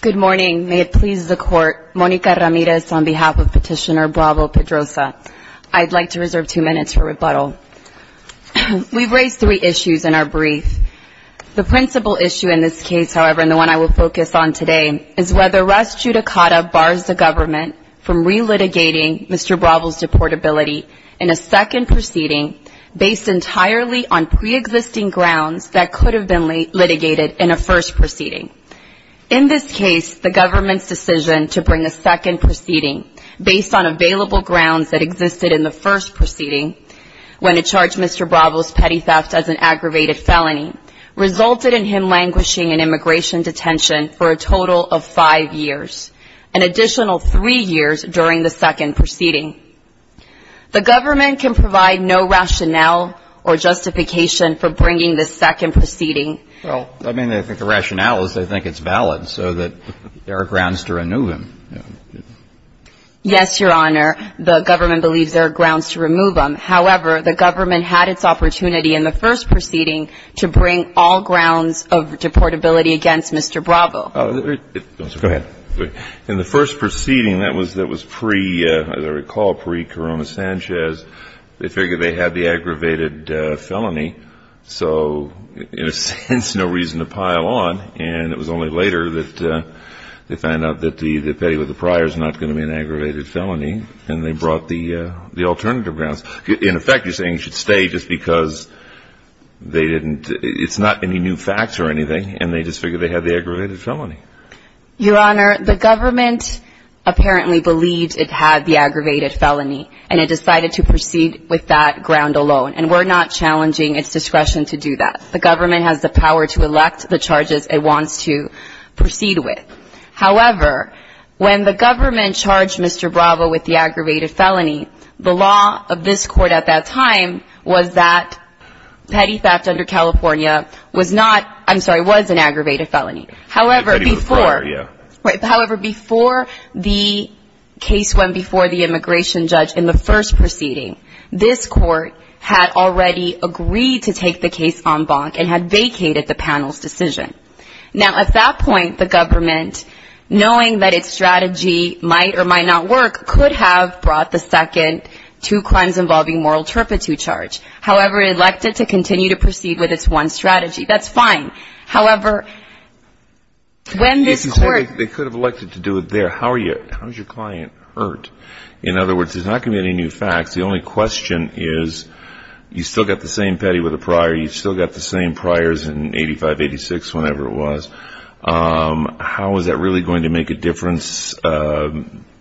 Good morning. May it please the Court, Monica Ramirez on behalf of Petitioner Bravo-Pedroza. I'd like to reserve two minutes for rebuttal. We've raised three issues in our brief. The principal issue in this case, however, and the one I will focus on today, is whether Ras Judicata bars the government from relitigating Mr. Bravo's deportability in a second proceeding based entirely on pre-existing grounds that could have been litigated in a first proceeding. In this case, the government's decision to bring a second proceeding based on available grounds that existed in the first proceeding, when it charged Mr. Bravo's petty theft as an aggravated felony, resulted in him languishing in immigration detention for a total of five years, an additional three years during the second proceeding. The government can provide no rationale or justification for bringing this second proceeding. Well, I mean, I think the rationale is they think it's valid so that there are grounds to remove him. Yes, Your Honor. The government believes there are grounds to remove him. However, the government had its opportunity in the first proceeding to bring all grounds of deportability against Mr. Bravo. Go ahead. In the first proceeding that was pre, as I recall, pre-Corona Sanchez, they figured they had the aggravated felony, so in a sense, no reason to pile on. And it was only later that they found out that the petty with the priors is not going to be an aggravated felony, and they brought the alternative grounds. In effect, you're saying he should stay just because they didn't, it's not any new facts or anything, and they just figured they had the aggravated felony. Your Honor, the government apparently believed it had the aggravated felony, and it decided to proceed with that ground alone. And we're not challenging its discretion to do that. The government has the power to elect the charges it wants to proceed with. However, when the government charged Mr. Bravo with the aggravated felony, the law of this Court at that time was that petty theft under California was not, I'm sorry, was an aggravated felony. However, before the case went before the immigration judge in the first proceeding, this Court had already agreed to take the case en banc and had vacated the panel's decision. Now, at that point, the government, knowing that its strategy might or might not work, could have brought the second two crimes involving moral turpitude charge. However, it elected to continue to proceed with its one strategy. That's fine. However, when this Court ---- They could have elected to do it there. How are you, how is your client hurt? In other words, there's not going to be any new facts. The only question is you still got the same petty with a prior. You still got the same priors in 85, 86, whenever it was. How is that really going to make a difference?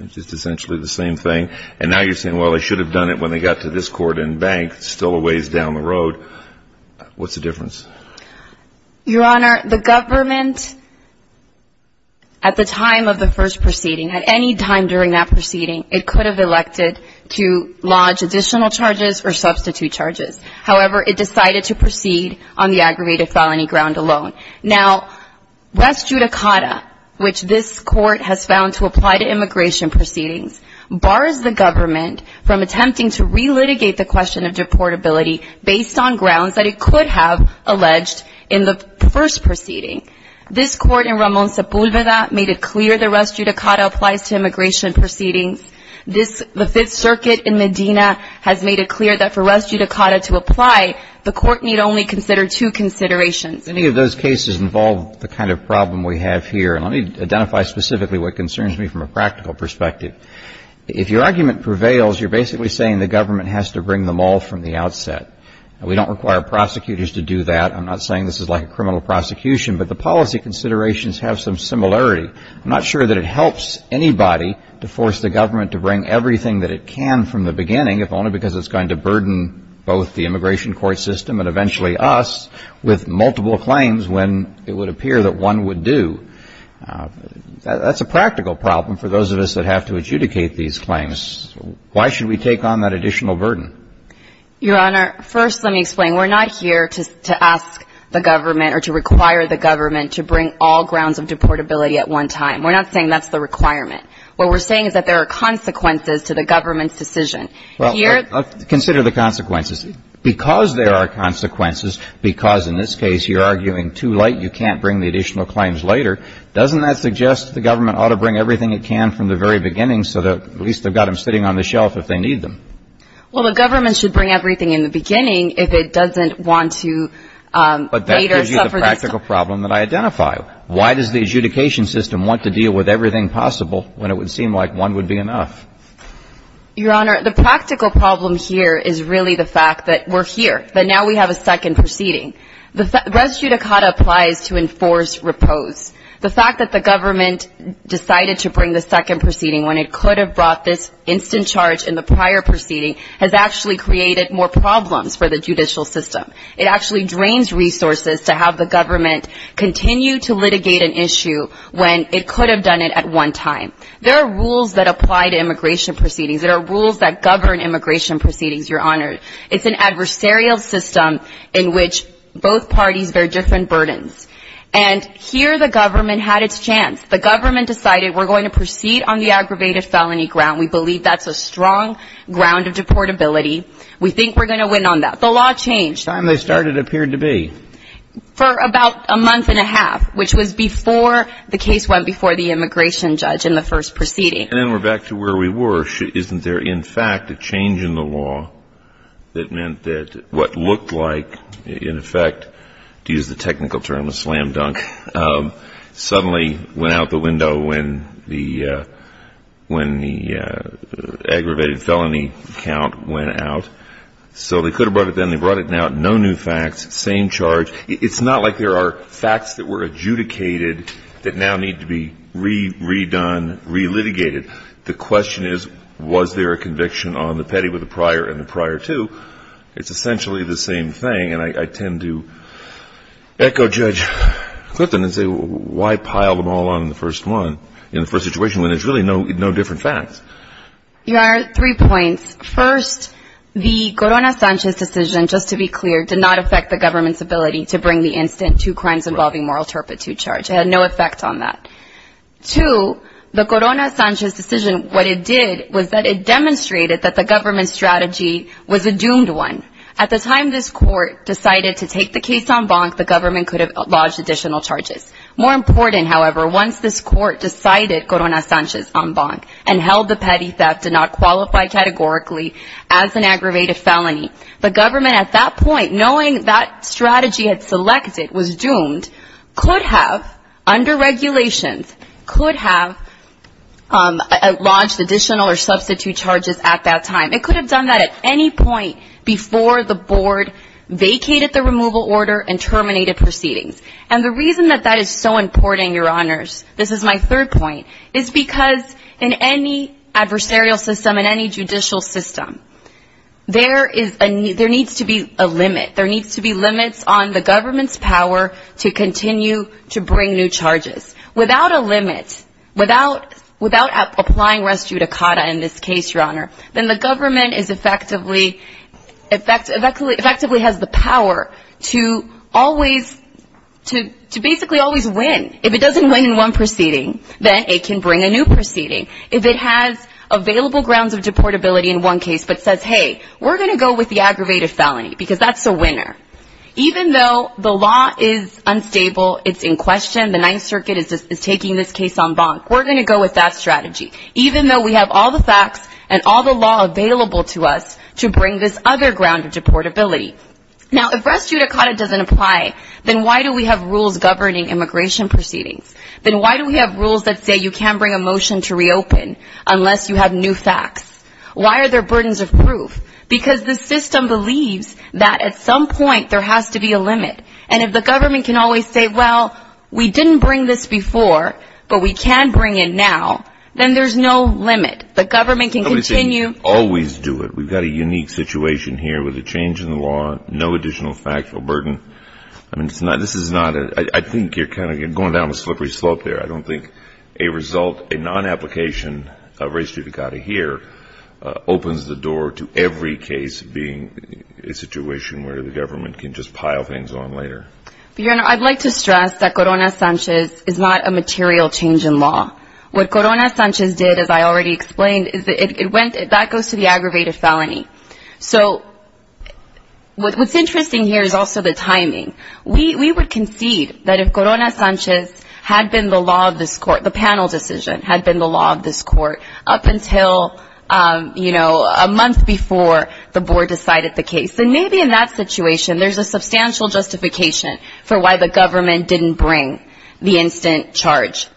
It's just essentially the same thing. And now you're saying, well, they should have done it when they got to this court en banc. It's still a ways down the road. What's the difference? Your Honor, the government, at the time of the first proceeding, at any time during that proceeding, it could have elected to lodge additional charges or substitute charges. However, it decided to proceed on the aggravated felony ground alone. Now, West Judicata, which this Court has found to apply to immigration proceedings, bars the government from attempting to relitigate the question of deportability based on grounds that it could have alleged in the first proceeding. This Court in Ramon Sepúlveda made it clear that West Judicata applies to immigration proceedings. The Fifth Circuit in Medina has made it clear that for West Judicata to apply, the Court need only consider two considerations. Any of those cases involve the kind of problem we have here. And let me identify specifically what concerns me from a practical perspective. If your argument prevails, you're basically saying the government has to bring them all from the outset. We don't require prosecutors to do that. I'm not saying this is like a criminal prosecution, but the policy considerations have some similarity. I'm not sure that it helps anybody to force the government to bring everything that it can from the beginning, if only because it's going to burden both the immigration court system and eventually us with multiple claims when it would appear that one would do. That's a practical problem for those of us that have to adjudicate these claims. Why should we take on that additional burden? Your Honor, first let me explain. We're not here to ask the government or to require the government to bring all grounds of deportability at one time. We're not saying that's the requirement. What we're saying is that there are consequences to the government's decision. Well, consider the consequences. Because there are consequences, because in this case you're arguing too late, you can't bring the additional claims later, doesn't that suggest the government ought to bring everything it can from the very beginning so that at least they've got them sitting on the shelf if they need them? Well, the government should bring everything in the beginning if it doesn't want to later suffer this. But that gives you the practical problem that I identify. Why does the adjudication system want to deal with everything possible when it would seem like one would be enough? Your Honor, the practical problem here is really the fact that we're here, that now we have a second proceeding. Res judicata applies to enforce repose. The fact that the government decided to bring the second proceeding when it could have brought this instant charge in the prior proceeding has actually created more problems for the judicial system. It actually drains resources to have the government continue to litigate an issue when it could have done it at one time. There are rules that apply to immigration proceedings. There are rules that govern immigration proceedings, Your Honor. It's an adversarial system in which both parties bear different burdens. And here the government had its chance. The government decided we're going to proceed on the aggravated felony ground. We believe that's a strong ground of deportability. We think we're going to win on that. The law changed. The time they started appeared to be? For about a month and a half, which was before the case went before the immigration judge in the first proceeding. And then we're back to where we were. Isn't there, in fact, a change in the law that meant that what looked like, in effect, to use the technical term, a slam dunk, suddenly went out the window when the aggravated felony count went out? So they could have brought it then. They brought it now. No new facts. Same charge. It's not like there are facts that were adjudicated that now need to be re-redone, re-litigated. The question is, was there a conviction on the petty with the prior and the prior two? It's essentially the same thing. And I tend to echo Judge Clifton and say, why pile them all on the first one in the first situation when there's really no different facts? Your Honor, three points. First, the Corona-Sanchez decision, just to be clear, did not affect the government's ability to bring the instant two crimes involving moral turpitude charge. It had no effect on that. Two, the Corona-Sanchez decision, what it did was that it demonstrated that the government's strategy was a doomed one. At the time this Court decided to take the case en banc, the government could have lodged additional charges. More important, however, once this Court decided Corona-Sanchez en banc and held the petty theft did not qualify categorically as an aggravated felony, the government at that point, knowing that strategy had selected, was doomed, could have, under regulations, could have lodged additional or substitute charges at that time. It could have done that at any point before the Board vacated the removal order and terminated proceedings. And the reason that that is so important, Your Honors, this is my third point, is because in any adversarial system, in any judicial system, there needs to be a limit. There needs to be limits on the government's power to continue to bring new charges. Without a limit, without applying res judicata in this case, Your Honor, then the government effectively has the power to always, to basically always win. If it doesn't win in one proceeding, then it can bring a new proceeding. If it has available grounds of deportability in one case but says, hey, we're going to go with the aggravated felony because that's a winner, even though the law is unstable, it's in question, the Ninth Circuit is taking this case en banc, we're going to go with that strategy, even though we have all the facts and all the law available to us to bring this other ground of deportability. Now, if res judicata doesn't apply, then why do we have rules governing immigration proceedings? Then why do we have rules that say you can't bring a motion to reopen unless you have new facts? Why are there burdens of proof? Because the system believes that at some point there has to be a limit. And if the government can always say, well, we didn't bring this before, but we can bring it now, then there's no limit. The government can continue. Always do it. We've got a unique situation here with a change in the law, no additional factual burden. I mean, this is not a ñ I think you're kind of going down a slippery slope there. I don't think a result, a non-application of res judicata here opens the door to every case being a situation where the government can just pile things on later. Your Honor, I'd like to stress that Corona Sanchez is not a material change in law. What Corona Sanchez did, as I already explained, that goes to the aggravated felony. So what's interesting here is also the timing. We would concede that if Corona Sanchez had been the law of this court, the panel decision, had been the law of this court up until, you know, a month before the board decided the case, then maybe in that situation there's a substantial justification for why the government didn't bring the instant charge.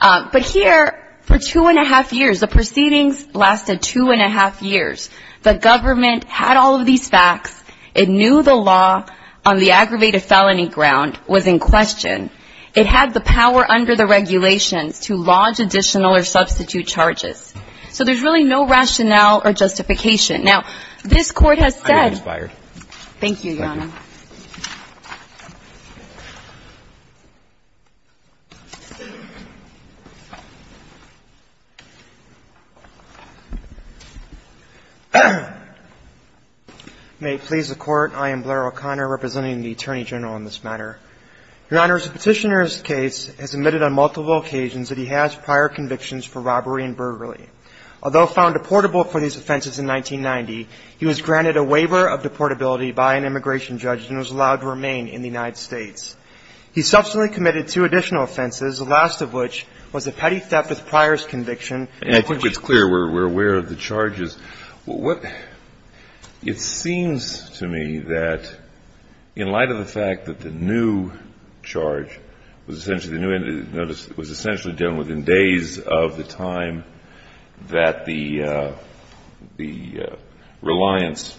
But here, for two-and-a-half years, the proceedings lasted two-and-a-half years. The government had all of these facts. It knew the law on the aggravated felony ground was in question. It had the power under the regulations to lodge additional or substitute charges. So there's really no rationale or justification. Now, this Court has said ñ I'm going to expire. Thank you, Your Honor. Thank you, Your Honor. May it please the Court, I am Blair O'Connor, representing the Attorney General in this matter. Your Honor, the Petitioner's case has admitted on multiple occasions that he has prior convictions for robbery and burglary. Although found deportable for these offenses in 1990, he was granted a waiver of deportability by an immigration judge and was allowed to remain in the United States. He subsequently committed two additional offenses, the last of which was a petty theft with prior conviction. And I think it's clear. We're aware of the charges. What ñ it seems to me that in light of the fact that the new charge was essentially done within days of the time that the reliance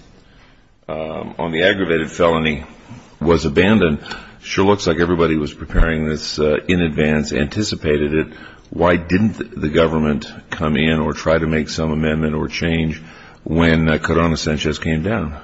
on the aggravated felony was abandoned, it sure looks like everybody was preparing this in advance, anticipated it. Why didn't the government come in or try to make some amendment or change when Corona-Sanchez came down?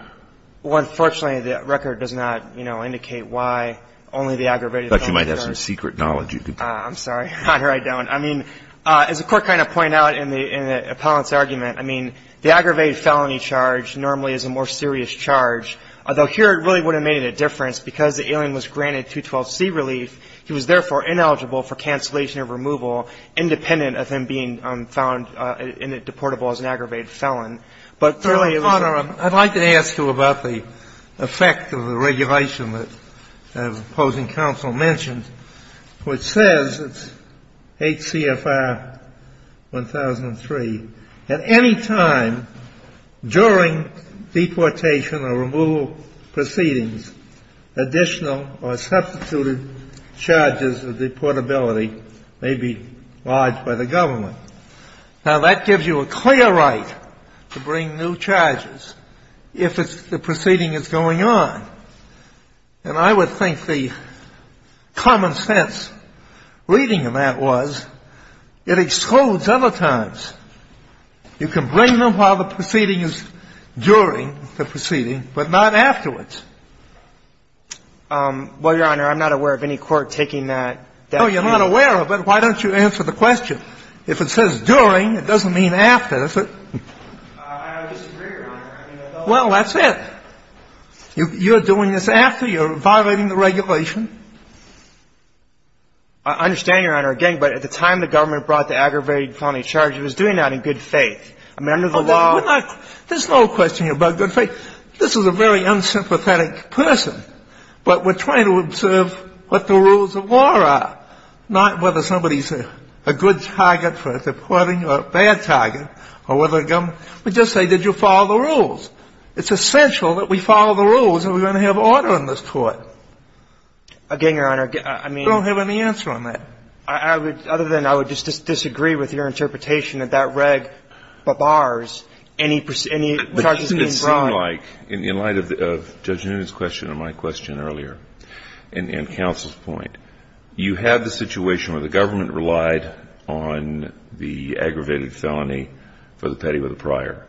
Well, unfortunately, the record does not, you know, indicate why only the aggravated felony charge. I thought you might have some secret knowledge. I'm sorry, Your Honor, I don't. I mean, as the Court kind of pointed out in the appellant's argument, I mean, the aggravated felony charge normally is a more serious charge, although here it really would have made a difference because the alien was granted 212C relief. He was, therefore, ineligible for cancellation of removal independent of him being found in the ñ deportable as an aggravated felon. But, Your Honor, I'd like to ask you about the effect of the regulation that the opposing counsel mentioned, which says, it's H.C.F.R. 1003, at any time during deportation or removal proceedings, additional or substituted charges of deportability may be lodged by the government. Now, that gives you a clear right to bring new charges if it's ñ the proceeding is going on. And I would think the common sense reading of that was it excludes other times. You can bring them while the proceeding is ñ during the proceeding, but not afterwards. Well, Your Honor, I'm not aware of any court taking that ñ No, you're not aware of it. Why don't you answer the question? If it says during, it doesn't mean after, does it? I disagree, Your Honor. I mean, I don't ñ Well, that's it. You're doing this after. You're violating the regulation. I understand, Your Honor, again, but at the time the government brought the aggravated felony charge, it was doing that in good faith. I mean, under the law ñ We're not ñ there's no question about good faith. This is a very unsympathetic person. But we're trying to observe what the rules of law are, not whether somebody's a good target for deporting or a bad target or whether the government ñ we just say, did you follow the rules? It's essential that we follow the rules or we're going to have order in this court. Again, Your Honor, I mean ñ I don't have any answer on that. I would ñ other than I would just disagree with your interpretation that that reg bars any charges being brought. In light of Judge Noonan's question and my question earlier and counsel's point, you have the situation where the government relied on the aggravated felony for the petty with a prior.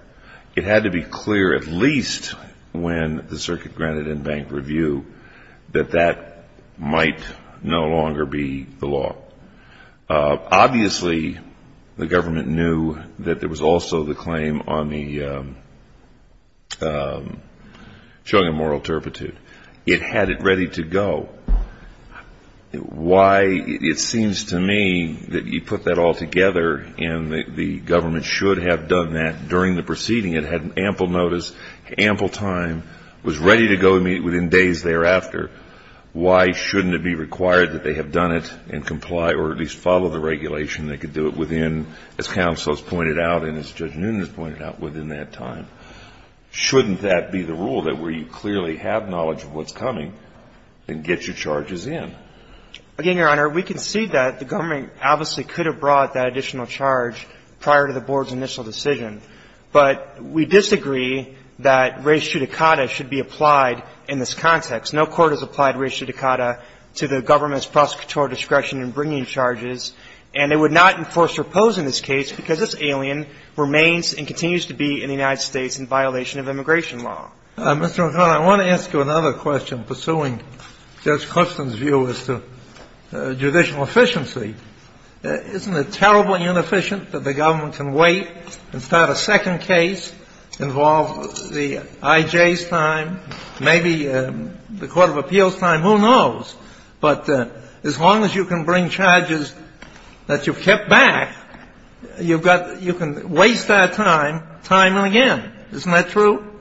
It had to be clear at least when the circuit granted in bank review that that might no longer be the law. Obviously, the government knew that there was also the claim on the ñ showing a moral turpitude. It had it ready to go. Why ñ it seems to me that you put that all together and the government should have done that during the proceeding. It had ample notice, ample time, was ready to go within days thereafter. Why shouldn't it be required that they have done it and comply or at least follow the regulation? They could do it within, as counsel has pointed out and as Judge Noonan has pointed out, within that time. Shouldn't that be the rule that where you clearly have knowledge of what's coming, then get your charges in? Again, Your Honor, we concede that the government obviously could have brought that additional charge prior to the board's initial decision. But we disagree that res judicata should be applied in this context. No court has applied res judicata to the government's prosecutorial discretion in bringing charges. And it would not enforce or oppose in this case because this alien remains and continues to be in the United States in violation of immigration law. Mr. McConnell, I want to ask you another question pursuing Judge Clifton's view as to judicial efficiency. Isn't it terribly inefficient that the government can wait and start a second case, involve the I.J.'s time, maybe the Court of Appeals' time, who knows? But as long as you can bring charges that you've kept back, you've got to – you can waste that time, time and again. Isn't that true?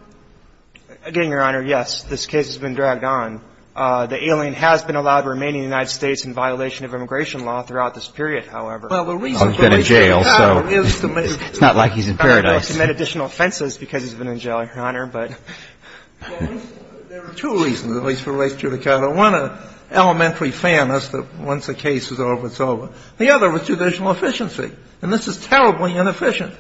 Again, Your Honor, yes. This case has been dragged on. The alien has been allowed to remain in the United States in violation of immigration law throughout this period, however. Well, the reason for which he's in jail is to make – He's been in jail, so it's not like he's in paradise. He's made additional offenses because he's been in jail, Your Honor, but – There are two reasons, at least, for res judicata. One, an elementary fairness that once a case is over, it's over. The other was judicial efficiency. And this is terribly inefficient.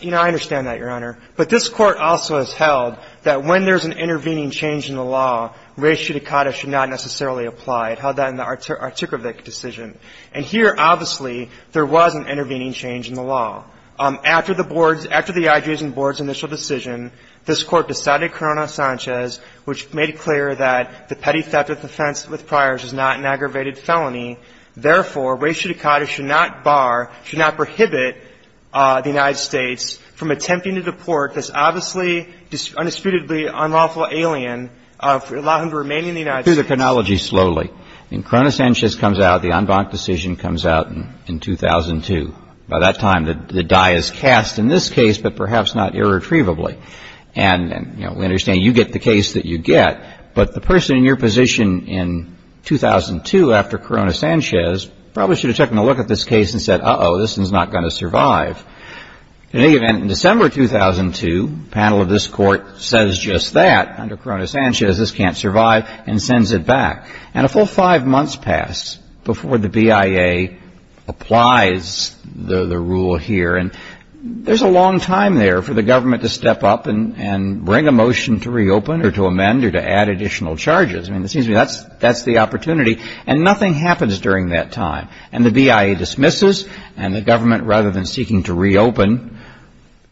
You know, I understand that, Your Honor. But this Court also has held that when there's an intervening change in the law, res judicata should not necessarily apply. It held that in the Artikovic decision. And here, obviously, there was an intervening change in the law. After the board's – after the IG's and board's initial decision, this Court decided Corona-Sanchez, which made it clear that the petty theft of offense with priors is not an aggravated felony. Therefore, res judicata should not bar, should not prohibit the United States from attempting to deport this obviously, undisputedly unlawful alien, allow him to remain in the United States. Do the chronology slowly. When Corona-Sanchez comes out, the en banc decision comes out in 2002. By that time, the die is cast in this case, but perhaps not irretrievably. And, you know, we understand you get the case that you get. But the person in your position in 2002, after Corona-Sanchez, probably should have taken a look at this case and said, uh-oh, this one's not going to survive. In any event, in December 2002, the panel of this Court says just that. Under Corona-Sanchez, this can't survive and sends it back. And a full five months pass before the BIA applies the rule here. And there's a long time there for the government to step up and bring a motion to reopen or to amend or to add additional charges. I mean, it seems to me that's the opportunity. And nothing happens during that time. And the BIA dismisses, and the government, rather than seeking to reopen,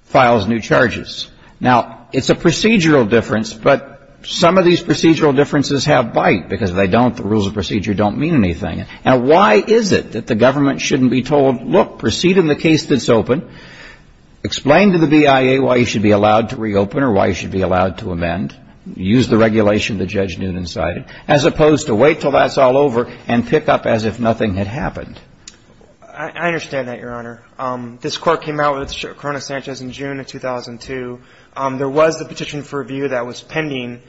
files new charges. Now, it's a procedural difference, but some of these procedural differences have bite because if they don't, the rules of procedure don't mean anything. Now, why is it that the government shouldn't be told, look, proceed in the case that's open, explain to the BIA why you should be allowed to reopen or why you should be allowed to amend, use the regulation that Judge Newton cited, as opposed to wait until that's all over and pick up as if nothing had happened? I understand that, Your Honor. This Court came out with Corona-Sanchez in June of 2002. There was a petition for review that was pending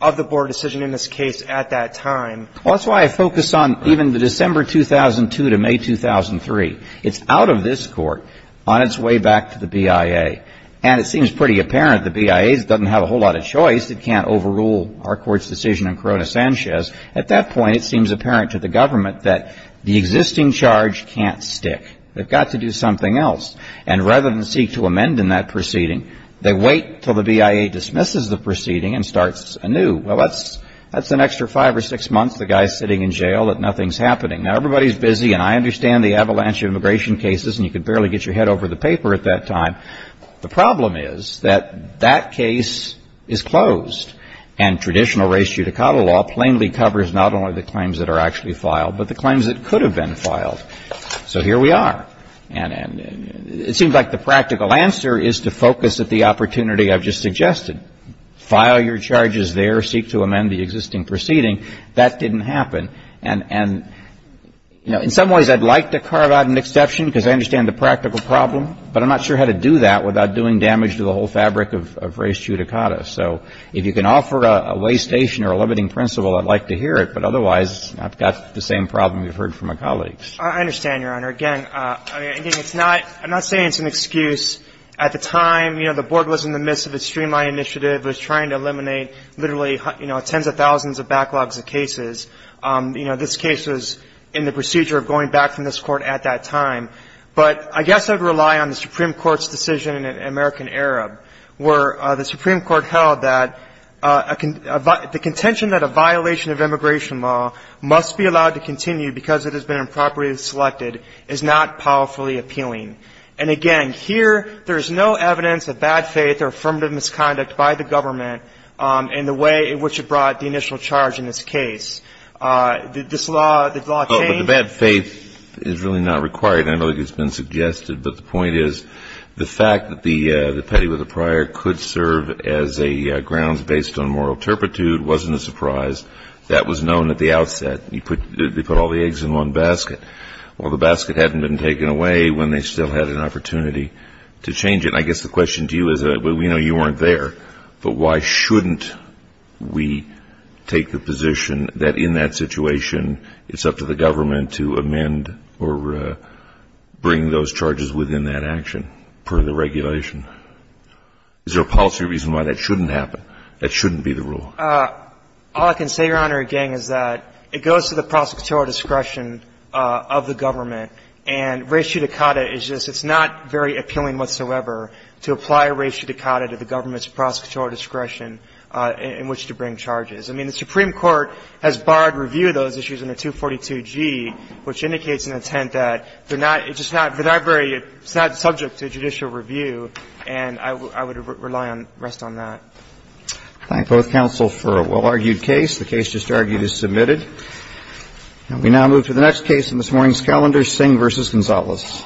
of the board decision in this case at that time. Well, that's why I focus on even the December 2002 to May 2003. It's out of this Court on its way back to the BIA. And it seems pretty apparent the BIA doesn't have a whole lot of choice. It can't overrule our Court's decision on Corona-Sanchez. At that point, it seems apparent to the government that the existing charge can't stick. They've got to do something else. And rather than seek to amend in that proceeding, they wait until the BIA dismisses the proceeding and starts anew. Well, that's an extra five or six months the guy's sitting in jail that nothing's happening. Now, everybody's busy, and I understand the avalanche of immigration cases, and you could barely get your head over the paper at that time. The problem is that that case is closed. And traditional res judicata law plainly covers not only the claims that are actually filed, but the claims that could have been filed. So here we are. And it seems like the practical answer is to focus at the opportunity I've just suggested. File your charges there. Seek to amend the existing proceeding. That didn't happen. And, you know, in some ways I'd like to carve out an exception because I understand the practical problem, but I'm not sure how to do that without doing damage to the whole fabric of res judicata. So if you can offer a way station or a limiting principle, I'd like to hear it. But otherwise, I've got the same problem you've heard from my colleagues. I understand, Your Honor. Again, I'm not saying it's an excuse. At the time, you know, the Board was in the midst of a streamline initiative. It was trying to eliminate literally, you know, tens of thousands of backlogs of cases. You know, this case was in the procedure of going back from this Court at that time. But I guess I would rely on the Supreme Court's decision in American Arab where the Supreme Court held that the contention that a violation of immigration law must be allowed to continue because it has been improperly selected is not powerfully appealing. And, again, here there is no evidence of bad faith or affirmative misconduct by the government in the way in which it brought the initial charge in this case. Did this law, did the law change? The bad faith is really not required. I know it's been suggested, but the point is the fact that the petty with a prior could serve as a grounds based on moral turpitude wasn't a surprise. That was known at the outset. They put all the eggs in one basket. Well, the basket hadn't been taken away when they still had an opportunity to change it. And I guess the question to you is we know you weren't there, but why shouldn't we take the position that in that situation it's up to the government to amend or bring those charges within that action per the regulation? Is there a policy reason why that shouldn't happen, that shouldn't be the rule? All I can say, Your Honor, again, is that it goes to the prosecutorial discretion of the government. And res judicata is just, it's not very appealing whatsoever to apply res judicata to the government's prosecutorial discretion in which to bring charges. I mean, the Supreme Court has barred review of those issues in the 242G, which indicates an intent that they're not, it's just not, they're not very, it's not subject to judicial review, and I would rely on, rest on that. I thank both counsel for a well-argued case. The case just argued is submitted. And we now move to the next case in this morning's calendar, Singh v. Gonzalez.